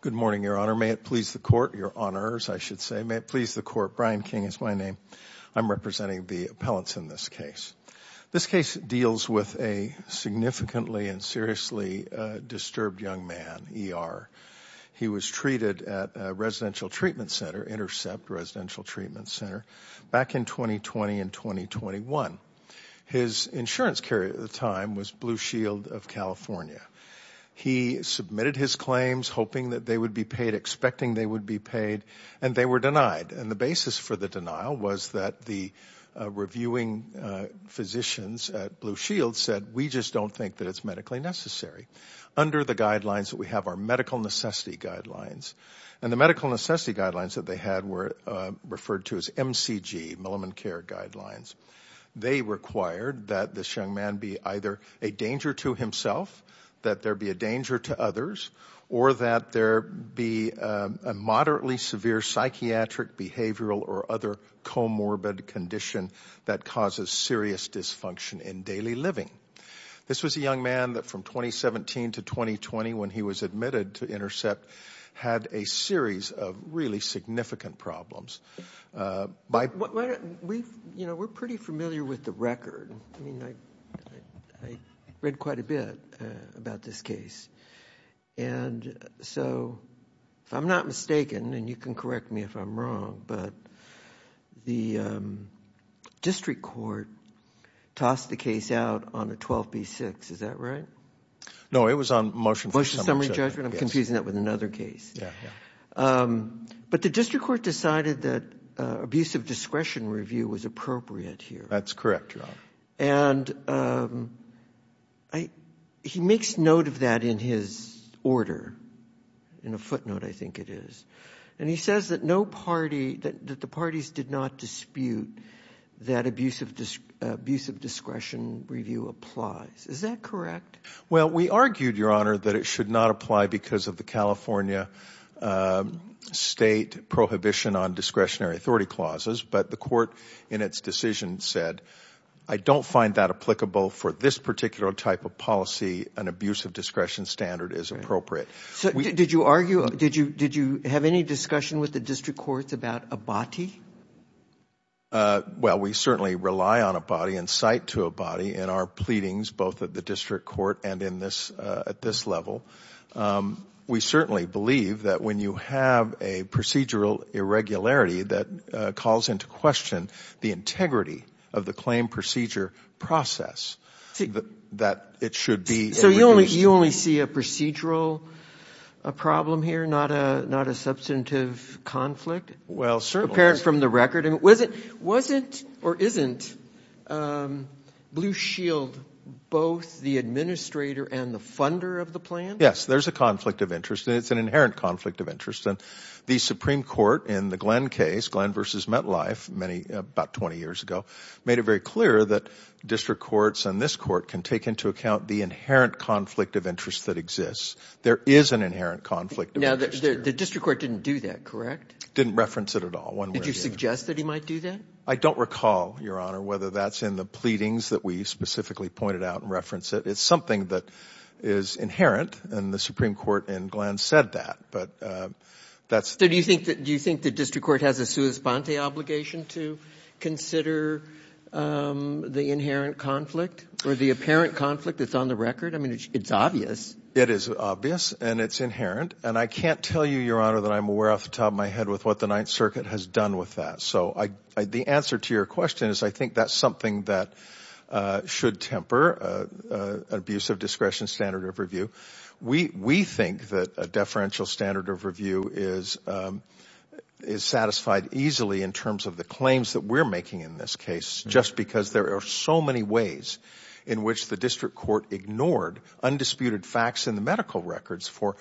Good morning, Your Honor. May it please the Court, Your Honors, I should say. May it please the Court, Brian King is my name. I'm representing the appellants in this case. This case deals with a significantly and seriously disturbed young man, E.R. He was treated at a residential treatment center, Intercept Residential Treatment Center, back in 2020 and 2021. His insurance carrier at the time was Blue Shield of California. He submitted his claims, hoping that they would be paid, expecting they would be paid, and they were denied. And the basis for the denial was that the reviewing physicians at Blue Shield said, we just don't think that it's medically necessary. Under the guidelines that we have are medical necessity guidelines. And the medical necessity guidelines that they had were referred to as MCG, Milliman Care Guidelines. They required that this young man be either a danger to himself, that there be a danger to others, or that there be a moderately severe psychiatric, behavioral, or other comorbid condition that causes serious dysfunction in daily living. This was a young man that from 2017 to 2020, when he was admitted to Intercept, had a series of really significant problems. We, you know, we're pretty familiar with the record. I mean, I read quite a bit about this case. And so, if I'm not mistaken, and you can correct me if I'm wrong, but the district court tossed the case out on a 12B6. Is that right? No, it was on motion for summary judgment. I'm confusing that with another case. Yeah. But the district court decided that abusive discretion review was appropriate here. That's correct, Your Honor. And he makes note of that in his order. In a footnote, I think it is. And he says that no party, that the parties did not dispute that abusive discretion review applies. Is that correct? Well, we argued, Your Honor, that it should not apply because of the California state prohibition on discretionary authority clauses. But the court in its decision said, I don't find that applicable for this particular type of policy. An abusive discretion standard is appropriate. So did you argue, did you have any discussion with the district courts about Abati? Well, we certainly rely on Abati and cite to Abati in our pleadings, both at the district court and at this level. We certainly believe that when you have a procedural irregularity that calls into question the integrity of the claim procedure process, that it should be reduced. So you only see a procedural problem here, not a substantive conflict? Well, certainly. And wasn't or isn't Blue Shield both the administrator and the funder of the plan? Yes, there's a conflict of interest. It's an inherent conflict of interest. And the Supreme Court in the Glenn case, Glenn v. Metlife, about 20 years ago, made it very clear that district courts and this court can take into account the inherent conflict of interest that exists. There is an inherent conflict of interest. Now, the district court didn't do that, correct? Didn't reference it at all. Did you suggest that he might do that? I don't recall, Your Honor, whether that's in the pleadings that we specifically pointed out and referenced it. It's something that is inherent. And the Supreme Court in Glenn said that. But that's... So do you think the district court has a sua sponte obligation to consider the inherent conflict or the apparent conflict that's on the record? I mean, it's obvious. It is obvious and it's inherent. And I can't tell you, Your Honor, that I'm aware off the top of my head with what the Ninth Circuit has done with that. So the answer to your question is I think that's something that should temper an abuse of discretion standard of review. We think that a deferential standard of review is satisfied easily in terms of the claims that we're making in this case, just because there are so many ways in which the district court ignored undisputed facts in the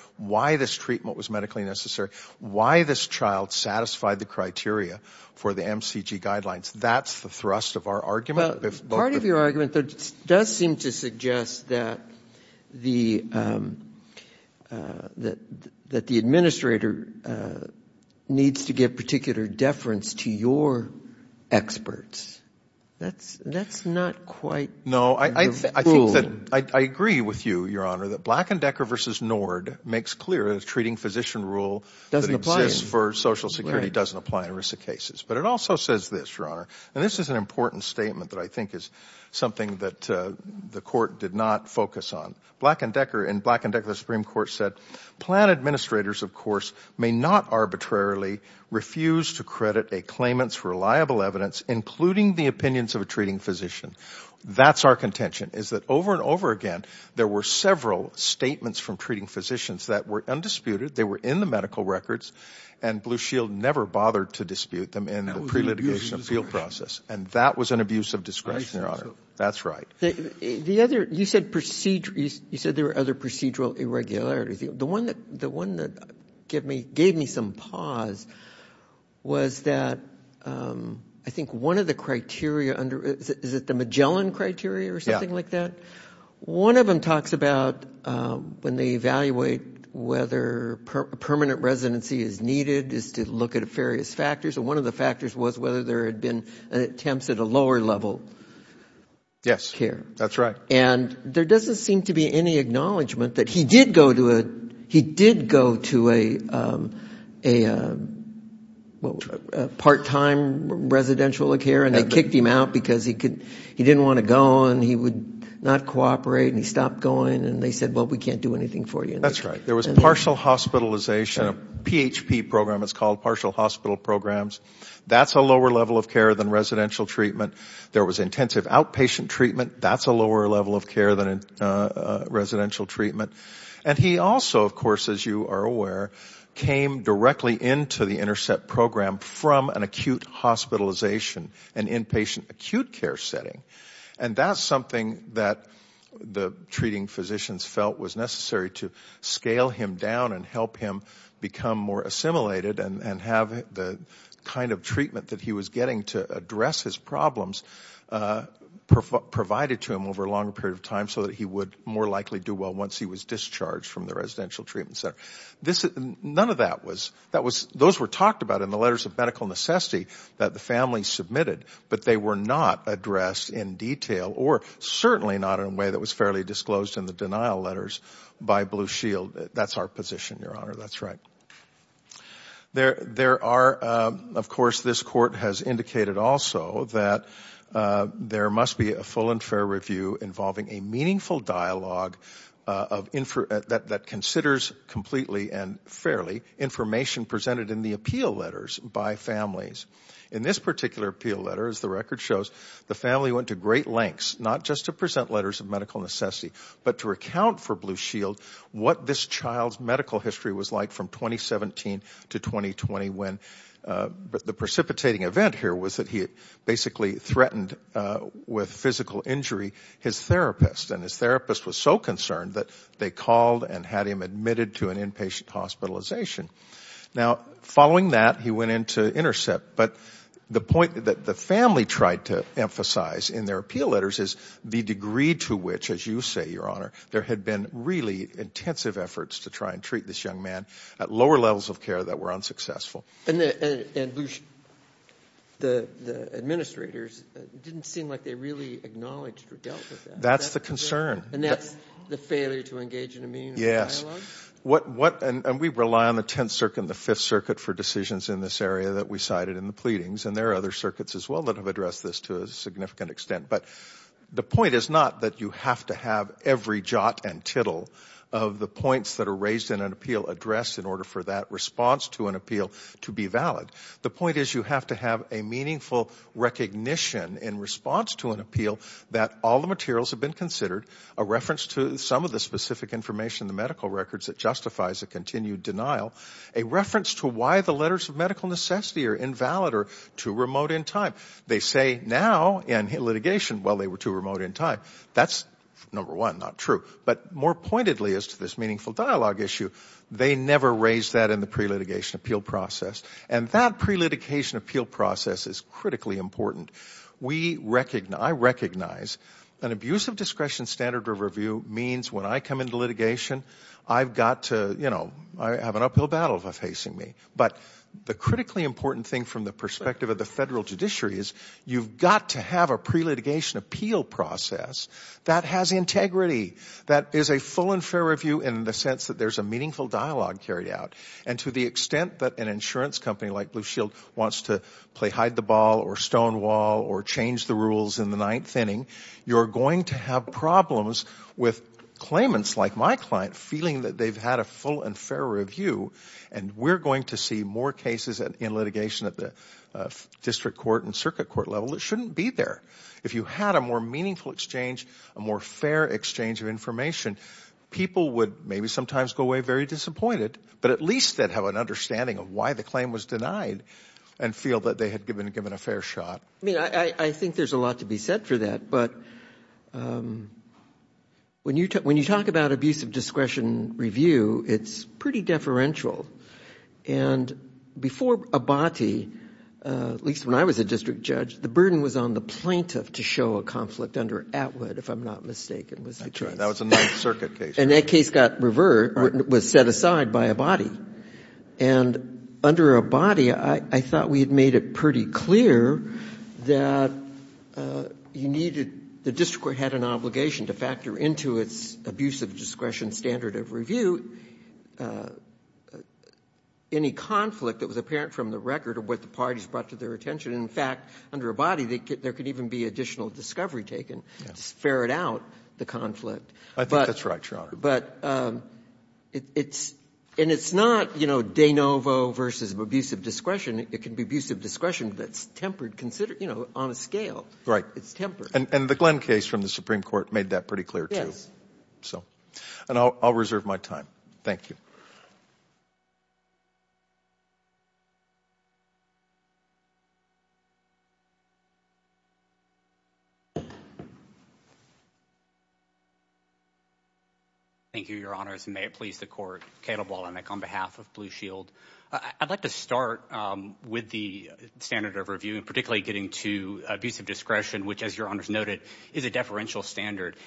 why this child satisfied the criteria for the MCG guidelines. That's the thrust of our argument. Part of your argument does seem to suggest that the administrator needs to give particular deference to your experts. That's not quite... No, I think that I agree with you, Your Honor, that Black and Decker versus Nord makes clear a treating physician rule that exists for social security doesn't apply in risk of cases. But it also says this, Your Honor, and this is an important statement that I think is something that the court did not focus on. Black and Decker, in Black and Decker, the Supreme Court said, plan administrators, of course, may not arbitrarily refuse to credit a claimant's reliable evidence, including the opinions of a treating physician. That's our contention, is that over and over again, there were several statements from treating physicians that were undisputed. They were in the medical records, and Blue Shield never bothered to dispute them in the pre-litigation appeal process. And that was an abuse of discretion, Your Honor. That's right. You said there were other procedural irregularities. The one that gave me some pause was that I think one of the criteria under... Is it the Magellan criteria or something like that? One of them talks about when they evaluate whether permanent residency is needed, is to look at various factors. And one of the factors was whether there had been attempts at a lower level care. Yes, that's right. And there doesn't seem to be any acknowledgement that he did go to a part-time residential care, and they kicked him out because he didn't want to go, and he would not cooperate, and he stopped going, and they said, well, we can't do anything for you. That's right. There was partial hospitalization, a PHP program, it's called, partial hospital programs. That's a lower level of care than residential treatment. There was intensive outpatient treatment. That's a lower level of care than residential treatment. And he also, of course, as you are aware, came directly into the Intercept program from an acute hospitalization, an inpatient acute care setting. And that's something that the treating physicians felt was necessary to scale him down and help him become more assimilated and have the kind of that he was getting to address his problems provided to him over a longer period of time so that he would more likely do well once he was discharged from the residential treatment center. None of that was, that was, those were talked about in the letters of medical necessity that the family submitted, but they were not addressed in detail or certainly not in a way that was fairly disclosed in the denial letters by Blue Shield. That's our position, Your Honor. That's right. There are, of course, this court has indicated also that there must be a full and fair review involving a meaningful dialogue that considers completely and fairly information presented in the appeal letters by families. In this particular appeal letter, as the record shows, the family went to great lengths, not just to present letters of medical necessity, but to account for Blue Shield what this child's medical history was like from 2017 to 2020 when the precipitating event here was that he basically threatened with physical injury his therapist. And his therapist was so concerned that they called and had him admitted to an inpatient hospitalization. Now, following that, he went into intercept. But the point that the family tried to emphasize in their appeal letters is the degree to which, as you say, Your Honor, there had been really intensive efforts to try and treat this young man at lower levels of care that were unsuccessful. And Blue Shield, the administrators didn't seem like they really acknowledged or dealt with that. That's the concern. And that's the failure to engage in a meaningful dialogue? Yes. And we rely on the Tenth Circuit and the Fifth Circuit for decisions in this area that we cited in the pleadings. And there are other circuits as well that have this to a significant extent. But the point is not that you have to have every jot and tittle of the points that are raised in an appeal addressed in order for that response to an appeal to be valid. The point is you have to have a meaningful recognition in response to an appeal that all the materials have been considered, a reference to some of the specific information in the medical records that justifies a continued denial, a reference to why the letters of medical necessity are invalid or too remote in time. They say now in litigation, well, they were too remote in time. That's, number one, not true. But more pointedly as to this meaningful dialogue issue, they never raised that in the pre-litigation appeal process. And that pre-litigation appeal process is critically important. I recognize an abusive discretion standard of review means when I come into litigation, I've got to, you know, I have an uphill battle facing me. But the critically important thing from the perspective of the federal judiciary is you've got to have a pre-litigation appeal process that has integrity, that is a full and fair review in the sense that there's a meaningful dialogue carried out. And to the extent that an insurance company like Blue Shield wants to play hide the ball or stonewall or change the rules in the ninth inning, you're going to have with claimants like my client feeling that they've had a full and fair review and we're going to see more cases in litigation at the district court and circuit court level that shouldn't be there. If you had a more meaningful exchange, a more fair exchange of information, people would maybe sometimes go away very disappointed, but at least they'd have an understanding of why the claim was denied and feel that they had been given a fair shot. I mean, I think there's a lot to be said for that. But when you talk about abusive discretion review, it's pretty deferential. And before Abati, at least when I was a district judge, the burden was on the plaintiff to show a conflict under Atwood, if I'm not mistaken. That's right. That was a Ninth Circuit case. And that case got revert, was set aside by Abati. And under Abati, I thought we had made it pretty clear that you needed the district court had an obligation to factor into its abusive discretion standard of review any conflict that was apparent from the record of what the parties brought to their attention. In fact, under Abati, there could even be additional discovery taken to ferret out the conflict. I think that's right, Your Honor. But it's not, you know, de novo versus abusive discretion. It can be abusive discretion that's tempered, you know, on a scale. It's tempered. And the Glenn case from the Supreme Court made that pretty clear, too. Yes. So, and I'll reserve my time. Thank you. Thank you, Your Honors, and may it please the court. Caleb Wallinick on behalf of Blue Shield. I'd like to start with the standard of review and particularly getting to abusive discretion, which, as Your Honors noted, is a deferential standard.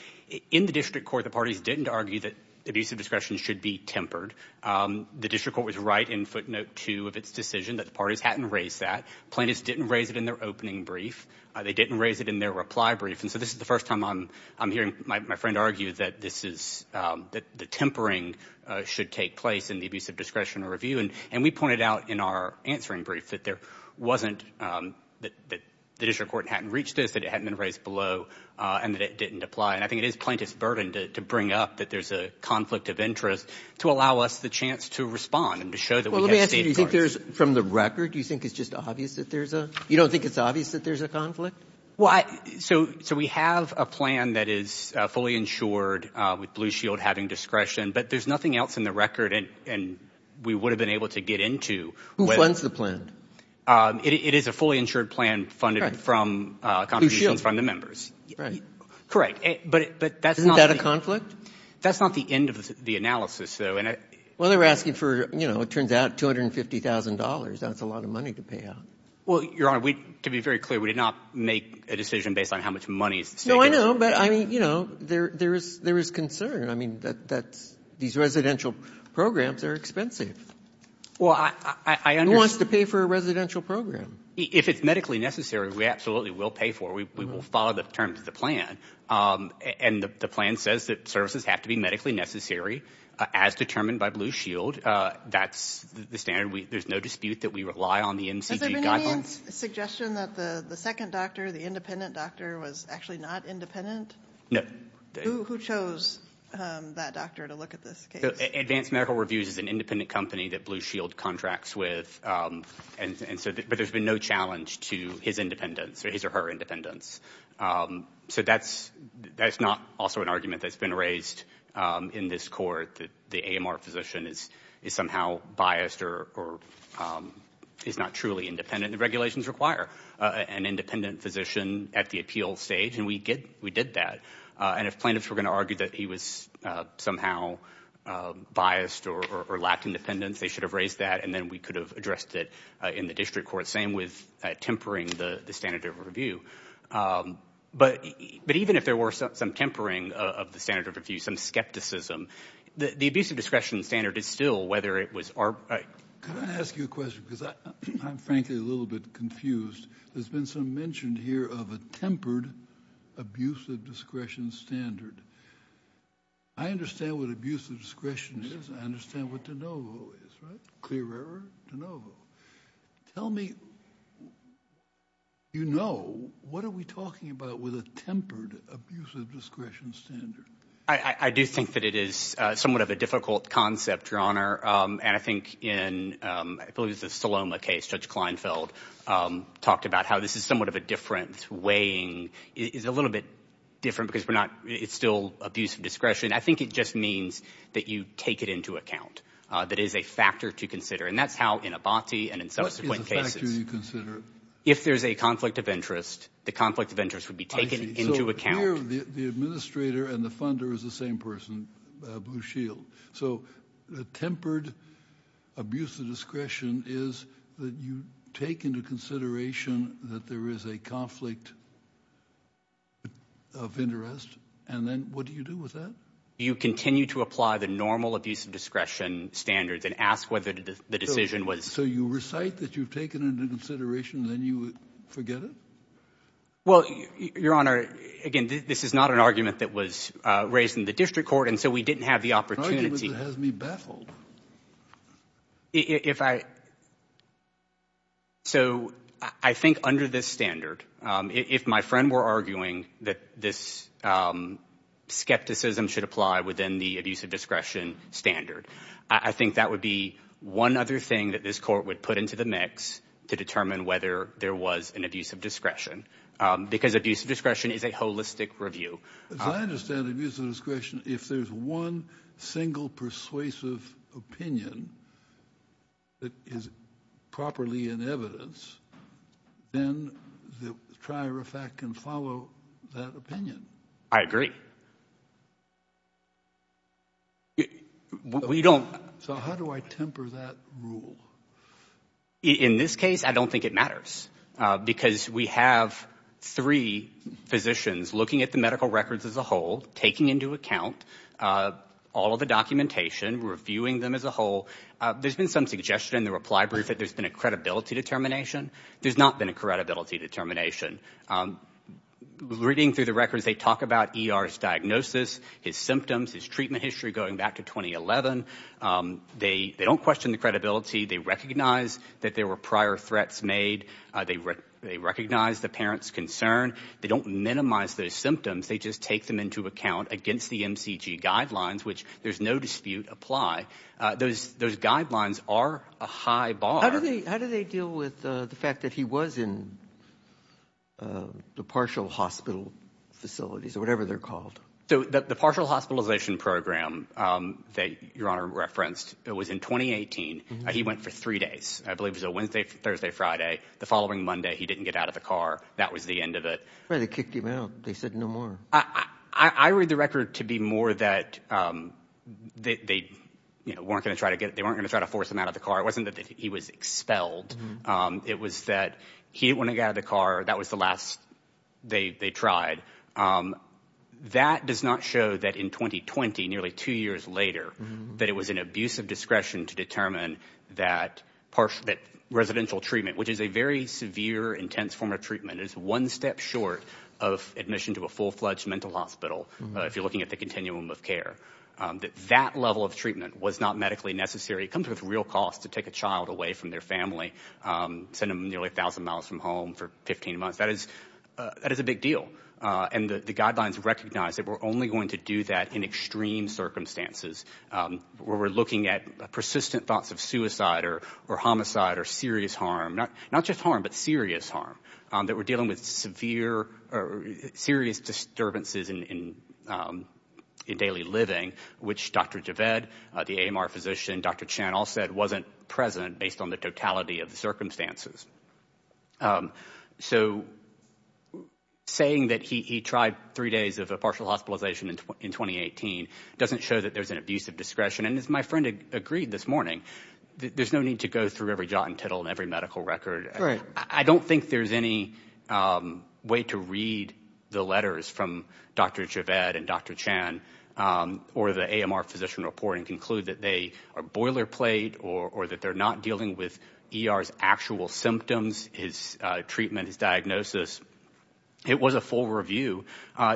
In the district court, the parties didn't argue that abusive discretion should be tempered. The district court was right in footnote two of its decision that the parties hadn't raised that. Plaintiffs didn't raise it in their opening brief. They didn't raise it in their reply brief. And so this is the first time I'm hearing my friend argue that this is, that the tempering should take place in the abusive discretion review. And we pointed out in our answering brief that there wasn't, that the district court hadn't reached this, that it hadn't been raised below, and that it didn't apply. And I think it is plaintiff's burden to bring up that there's a conflict of interest to allow us the chance to respond and to show that we have state courts. Well, let me ask you, do you think there's, from the record, do you think it's just obvious that there's a, you don't think it's obvious that there's a conflict? Well, so we have a plan that is fully insured with Blue Shield having discretion, but there's nothing else in the record and we would have been able to get into. Who funds the plan? It is a fully insured plan funded from contributions from the members. But that's not... Isn't that a conflict? That's not the end of the analysis, though. Well, they were asking for, you know, it turns out $250,000. That's a lot of money to pay out. Well, Your Honor, to be very clear, we did not make a decision based on how much money is... No, I know, but I mean, you know, there is concern. I mean, these residential programs are expensive. Well, I understand... Who wants to pay for a residential program? If it's medically necessary, we absolutely will pay for it. We will follow the terms of the plan. And the plan says that services have to be medically necessary, as determined by Blue Shield. That's the standard. There's no dispute that we rely on the MCG guidelines. Suggestion that the second doctor, the independent doctor, was actually not independent? No. Who chose that doctor to look at this case? Advanced Medical Reviews is an independent company that Blue Shield contracts with. But there's been no challenge to his independence or his or her independence. So that's not also an argument that's been raised in this court that the AMR physician is somehow biased or is not truly independent. The regulations require an independent physician at the appeal stage, and we did that. And if plaintiffs were going to argue that he was somehow biased or lacked independence, they should have raised that, and then we could have addressed it in the district court. Same with tempering the standard of review. But even if there were some tempering of the standard of review, some skepticism, the abusive discretion standard is still whether it was... Can I ask you a question? I'm frankly a little bit confused. There's been some mention here of a tempered abusive discretion standard. I understand what abusive discretion is. I understand what de novo is, right? Clear error, de novo. Tell me, you know, what are we talking about with a tempered abusive discretion standard? I do think that it is somewhat of a difficult concept, and I think in, I believe it's the Saloma case, Judge Kleinfeld talked about how this is somewhat of a different weighing. It's a little bit different because we're not... It's still abusive discretion. I think it just means that you take it into account. That is a factor to consider, and that's how in Abati and in subsequent cases... What is a factor you consider? If there's a conflict of interest, the conflict of interest would be taken into account. The administrator and the funder is the same person, Blue Shield. So the tempered abusive discretion is that you take into consideration that there is a conflict of interest, and then what do you do with that? You continue to apply the normal abusive discretion standards and ask whether the decision was... So you recite that you've taken into consideration, then you forget it? Well, Your Honor, again, this is not an argument that was raised in the district court, and so we didn't have the opportunity... If I... So I think under this standard, if my friend were arguing that this skepticism should apply within the abusive discretion standard, I think that would be one other thing that this court would put into the mix to determine whether there was an abusive discretion, because abusive discretion is a holistic review. As I understand abusive discretion, if there's one single persuasive opinion that is properly in evidence, then the trier of fact can follow that opinion. I agree. We don't... So how do I temper that rule? In this case, I don't think it matters, because we have three physicians looking at the medical records as a whole, taking into account all of the documentation, reviewing them as a whole. There's been some suggestion in the reply brief that there's been a credibility determination. There's not been a credibility determination. Reading through the records, they talk about ER's diagnosis, his symptoms, his treatment history going back to 2011. They don't question the credibility. They recognize that there were prior threats made. They recognize the parent's concern. They don't minimize those symptoms. They just take them into account against the MCG guidelines, which there's no dispute apply. Those guidelines are a high bar. How do they deal with the fact that he was in the partial hospital facilities or whatever they're called? So the partial hospitalization program that your honor referenced, it was in 2018. He went for three days. I believe it was a Wednesday, Thursday, Friday. The following Monday, he didn't get out of the car. That was the end of it. Well, they kicked him out. They said no more. I read the record to be more that they weren't going to try to force him out of the car. It wasn't that he was expelled. It was that he didn't want to get out of the car. That was the last they tried. That does not show that in 2020, nearly two years later, that it was an abuse of discretion to determine that residential treatment, which is a very severe, intense form of treatment. It's one step short of admission to a full-fledged mental hospital. If you're looking at the continuum of care, that that level of treatment was not medically necessary. It comes with real costs to take a child away from their family, send them nearly a thousand miles from home for 15 months. That is a big deal. And the guidelines recognize that we're only going to do that in extreme circumstances where we're looking at persistent thoughts of suicide or homicide or serious harm, not just harm, but serious harm, that we're dealing with severe or serious disturbances in daily living, which Dr. Javed, the AMR physician, Dr. Chan all said wasn't present based on the totality of the circumstances. So saying that he tried three days of a partial hospitalization in 2018 doesn't show that there's an abuse of discretion. And as my friend agreed this morning, there's no need to go through every jot and tittle and every medical record. I don't think there's any way to read the letters from Dr. Javed and Dr. Chan or the AMR physician report and conclude that they are boilerplate or that they're not dealing with ER's actual symptoms, his treatment, his diagnosis. It was a full review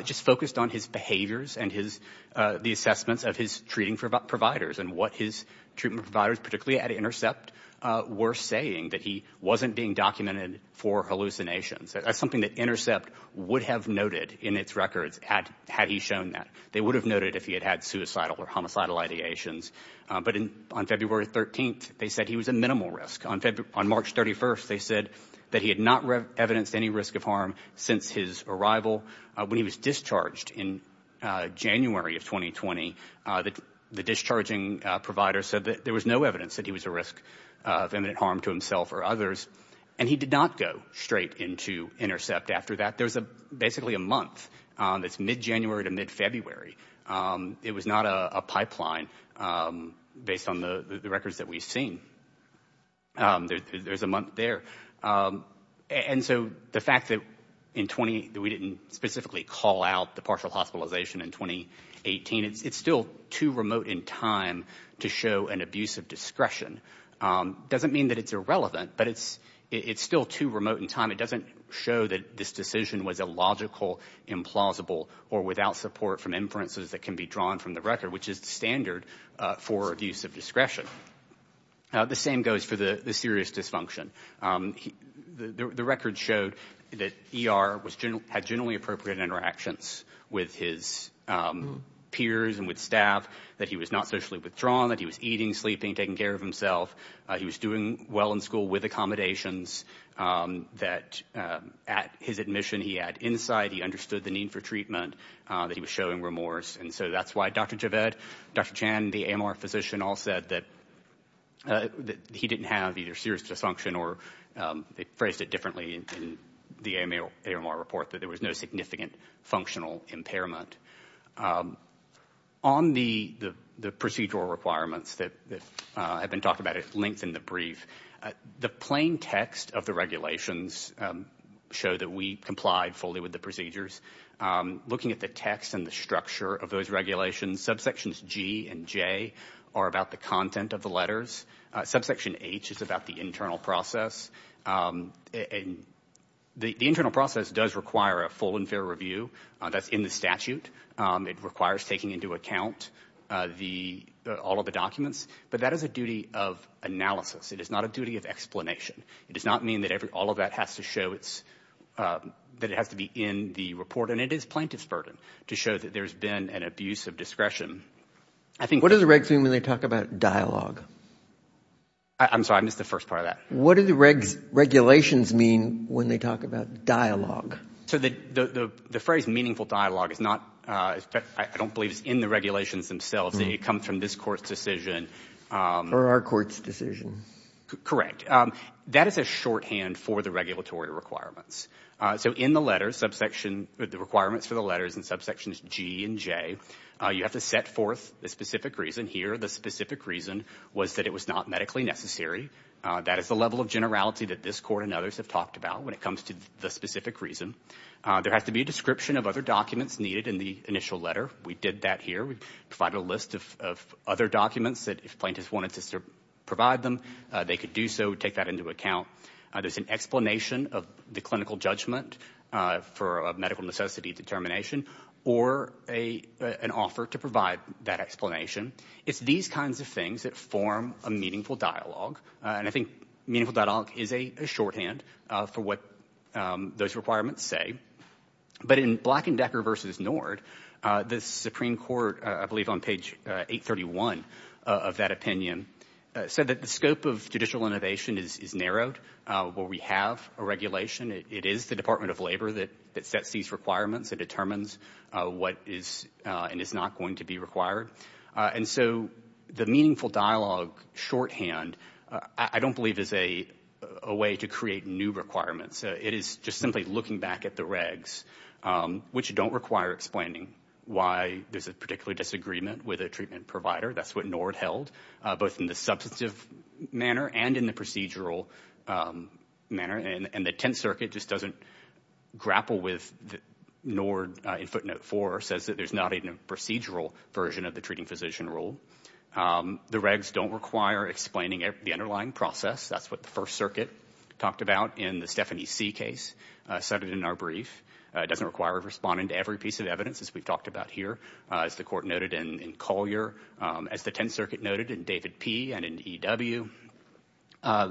just focused on his behaviors and the assessments of his treating providers and what his treatment providers, particularly at Intercept, were saying that he wasn't being documented for hallucinations. That's something that Intercept would have noted in its records had he shown that. They would have noted if he had had suicidal or homicidal ideations. But on February 13th, they said he was a minimal risk. On March 31st, they said that he had not evidenced any risk of harm since his arrival. When he was discharged in January of 2020, the discharging provider said that there was no evidence that he was a risk of imminent harm to himself or others. And he did not go straight into Intercept after that. There's basically a month that's mid-January to mid-February. It was not a pipeline based on the records that we've seen. There's a month there. And so the fact that in 20, that we didn't specifically call out the partial hospitalization in 2018, it's still too remote in time to show an abuse of discretion. Doesn't mean that it's irrelevant, but it's still too remote in time. It doesn't show that this decision was illogical, implausible, or without support from inferences that can be drawn from the record, which is the standard for abuse of discretion. The same goes for the serious dysfunction. The record showed that ER had generally appropriate interactions with his peers and with staff, that he was not socially withdrawn, that he was eating, sleeping, taking care of himself. He was doing well in school with accommodations that at his admission he had insight, he understood the need for treatment, that he was showing remorse. And so that's why Dr. Javed, Dr. Chan, the AMR physician all said that he didn't have either serious dysfunction or they phrased it differently in the AMR report, that there was no significant functional impairment. On the procedural requirements that have been talked about at length in the brief, the plain text of the regulations show that we complied fully with the procedures. Looking at the text and the structure of those regulations, subsections G and J are about the content of the letters. Subsection H is about the internal process. And the internal process does require a full and fair review. That's in the statute. It requires taking into account all of the documents. But that is a duty of analysis. It is not a duty of explanation. It does not mean that all of that has to show that it has to be in the report. And it is plaintiff's burden to show that there's been an abuse of discretion. I think- What are the regulations when they talk about dialogue? I'm sorry, I missed the first part of that. What do the regulations mean when they talk about dialogue? So the phrase meaningful dialogue is not- I don't believe it's in the regulations themselves. They come from this court's decision. Or our court's decision. Correct. That is a shorthand for the regulatory requirements. So in the letter, the requirements for the letters in subsections G and J, you have to set forth the specific reason here. The specific reason was that it was not medically necessary. That is the level of generality that this court and others have talked about when it comes to the specific reason. There has to be a description of other documents needed in the initial letter. We did that here. We provided a list of other documents that if plaintiffs wanted to provide them, they could do so, take that into account. There's an explanation of the clinical judgment for a medical necessity determination or an offer to provide that explanation. It's these kinds of things that form a meaningful dialogue. I think meaningful dialogue is a shorthand for what those requirements say. But in Black & Decker v. Nord, the Supreme Court, I believe on page 831 of that opinion, said that the scope of judicial innovation is narrowed. Well, we have a regulation. It is the Department of Labor that sets these requirements and determines what is and is not going to be required. And so the meaningful dialogue shorthand, I don't believe is a way to create new requirements. It is just simply looking back at the regs, which don't require explaining why there's a particular disagreement with a treatment provider. That's what Nord held, both in the substantive manner and in the procedural manner. And the Tenth Circuit just doesn't grapple with Nord in footnote 4, says that there's not even a procedural version of the treating physician rule. The regs don't require explaining the underlying process. That's what the First Circuit talked about in the Stephanie C case, cited in our brief. It doesn't require responding to every piece of evidence, as we've talked about here, as the Court noted in Collier, as the Tenth Circuit noted in David P. and in E.W.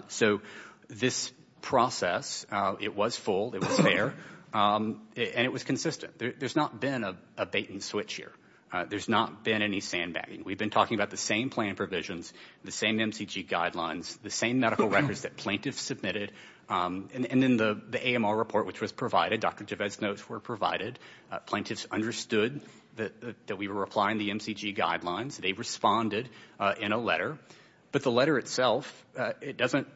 So this process, it was full, it was fair, and it was consistent. There's not been a bait-and-switch here. There's not been any sandbagging. We've been talking about the same plan provisions, the same MCG guidelines, the same medical records that plaintiffs submitted. And in the AMR report, which was provided, Dr. Gervais' notes were provided, plaintiffs understood that we were applying the MCG guidelines. They responded in a letter. But the letter itself, it doesn't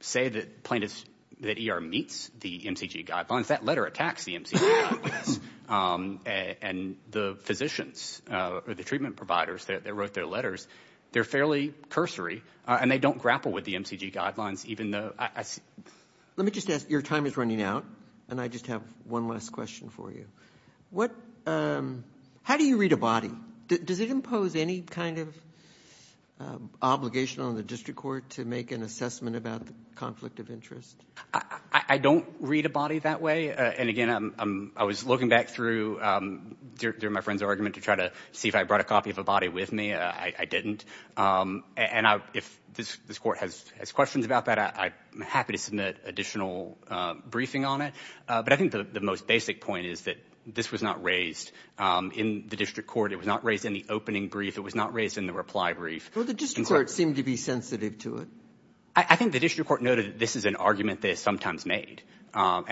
say that plaintiffs, that ER meets the MCG guidelines. That letter attacks the MCG guidelines. And the physicians, or the treatment providers, that wrote their letters, they're fairly cursory, and they don't grapple with the MCG guidelines, even though... Let me just ask, your time is running out, and I just have one last question for you. How do you read a body? Does it impose any kind of obligation on the district court to make an assessment about the conflict of interest? I don't read a body that way. And again, I was looking back through my friend's argument to try to see if I brought a copy of a body with me. I didn't. And if this court has questions about that, I'm happy to submit additional briefing on it. But I think the most basic point is that this was not raised in the district court. It was not raised in the opening brief. It was not raised in the reply brief. Well, the district court seemed to be sensitive to it. I think the district court noted that this is an argument that is sometimes made. I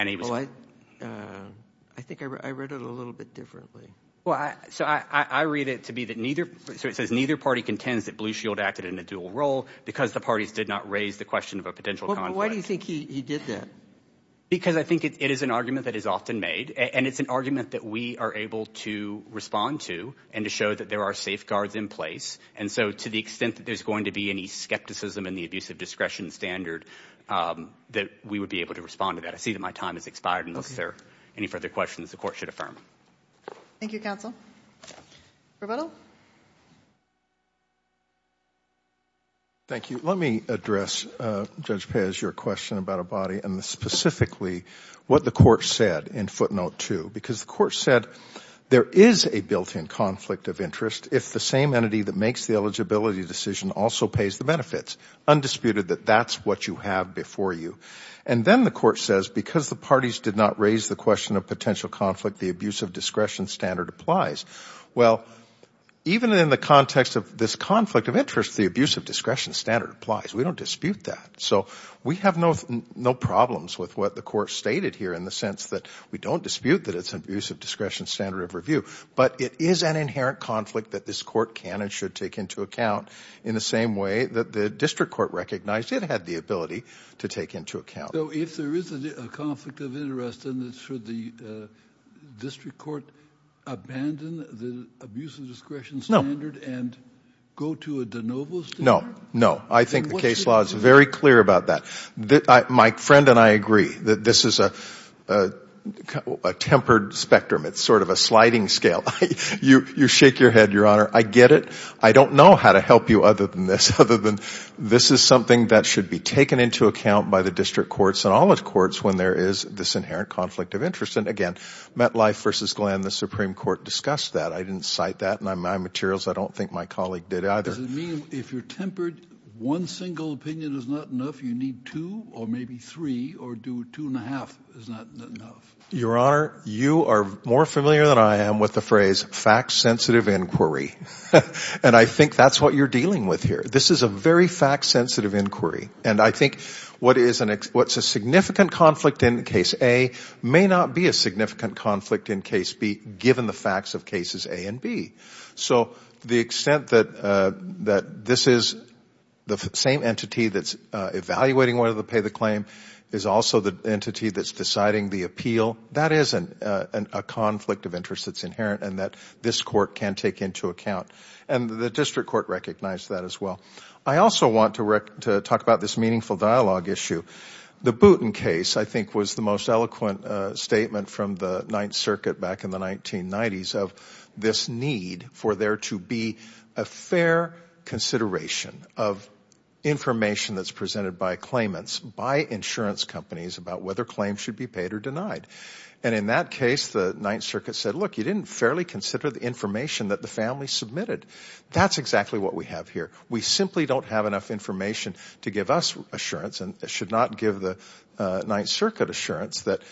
think I read it a little bit differently. Well, so I read it to be that neither... So it says neither party contends that Blue Shield acted in a dual role because the parties did not raise the question of a potential conflict. Why do you think he did that? Because I think it is an argument that is often made, and it's an argument that we are able to respond to and to show that there are safeguards in place. And so to the extent that there's going to be any skepticism in the abusive discretion standard, that we would be able to respond to that. I see that my time has expired. Unless there are any further questions, the court should affirm. Thank you, counsel. Rebuttal. Thank you. Let me address, Judge Pez, your question about a body and specifically what the court said in footnote two. Because the court said, there is a built-in conflict of interest if the same entity that makes the eligibility decision also pays the benefits. Undisputed that that's what you have before you. And then the court says, because the parties did not raise the question of potential conflict, the abusive discretion standard applies. Well, even in the context of this conflict of interest, the abusive discretion standard applies. We don't dispute that. So we have no problems with what the court stated here in the sense that we don't dispute that it's an abusive discretion standard of review, but it is an inherent conflict that this court can and should take into account in the same way that the district court recognized it had the ability to take into account. So if there is a conflict of interest, then should the district court abandon the abusive discretion standard and go to a de novo standard? No, no. I think the case law is very clear about that. My friend and I agree that this is a tempered spectrum. It's sort of a sliding scale. You shake your head, Your Honor. I get it. I don't know how to help you other than this, other than this is something that should be taken into account by the district courts and all the courts when there is this inherent conflict of interest. And again, MetLife versus Glenn, the Supreme Court discussed that. I didn't cite that in my materials. I don't think my colleague did either. Does it mean if you're tempered, one single opinion is not enough, you need two or maybe three, or do two and a half is not enough? Your Honor, you are more familiar than I am with the phrase fact-sensitive inquiry. And I think that's what you're dealing with here. This is a very fact-sensitive inquiry. And I think what's a significant conflict in case A may not be a significant conflict in case B given the facts of cases A and B. So the extent that this is the same entity that's evaluating whether to pay the claim is also the entity that's deciding the appeal. That is a conflict of interest that's inherent and that this court can take into account. And the district court recognized that as well. I also want to talk about this meaningful dialogue issue. The Booten case, I think, was the most eloquent statement from the Ninth Circuit back in the 1990s of this need for there to be a fair consideration of information that's presented by claimants, by insurance companies, about whether claims should be paid or denied. And in that case, the Ninth Circuit said, look, you didn't fairly consider the information that the family submitted. That's exactly what we have here. We simply don't have enough information to give us assurance and should not give the Ninth Circuit assurance that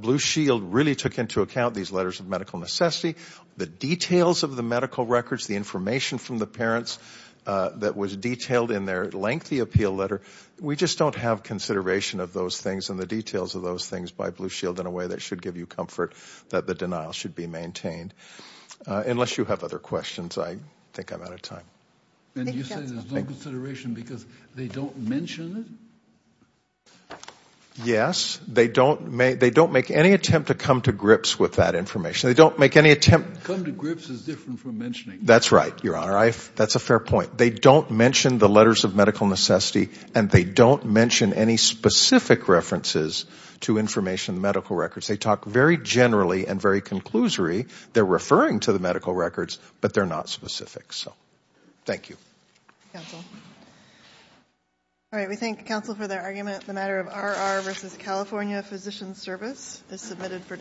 Blue Shield really took into account these letters of medical necessity, the details of the medical records, the information from the parents that was detailed in their lengthy appeal letter. We just don't have consideration of those things and the details of those things by Blue Shield in a way that should give you comfort that the denial should be maintained. Unless you have other questions, I think I'm out of time. And you say there's no consideration because they don't mention it? Yes, they don't make any attempt to come to grips with that information. They don't make any attempt... Come to grips is different from mentioning. That's right, Your Honor. That's a fair point. They don't mention the letters of medical necessity and they don't mention any specific references to information in the medical records. They talk very generally and very conclusory. They're referring to the medical records, but they're not specific. So, thank you. All right, we thank counsel for their argument. The matter of RR versus California Physician Service is submitted for decision.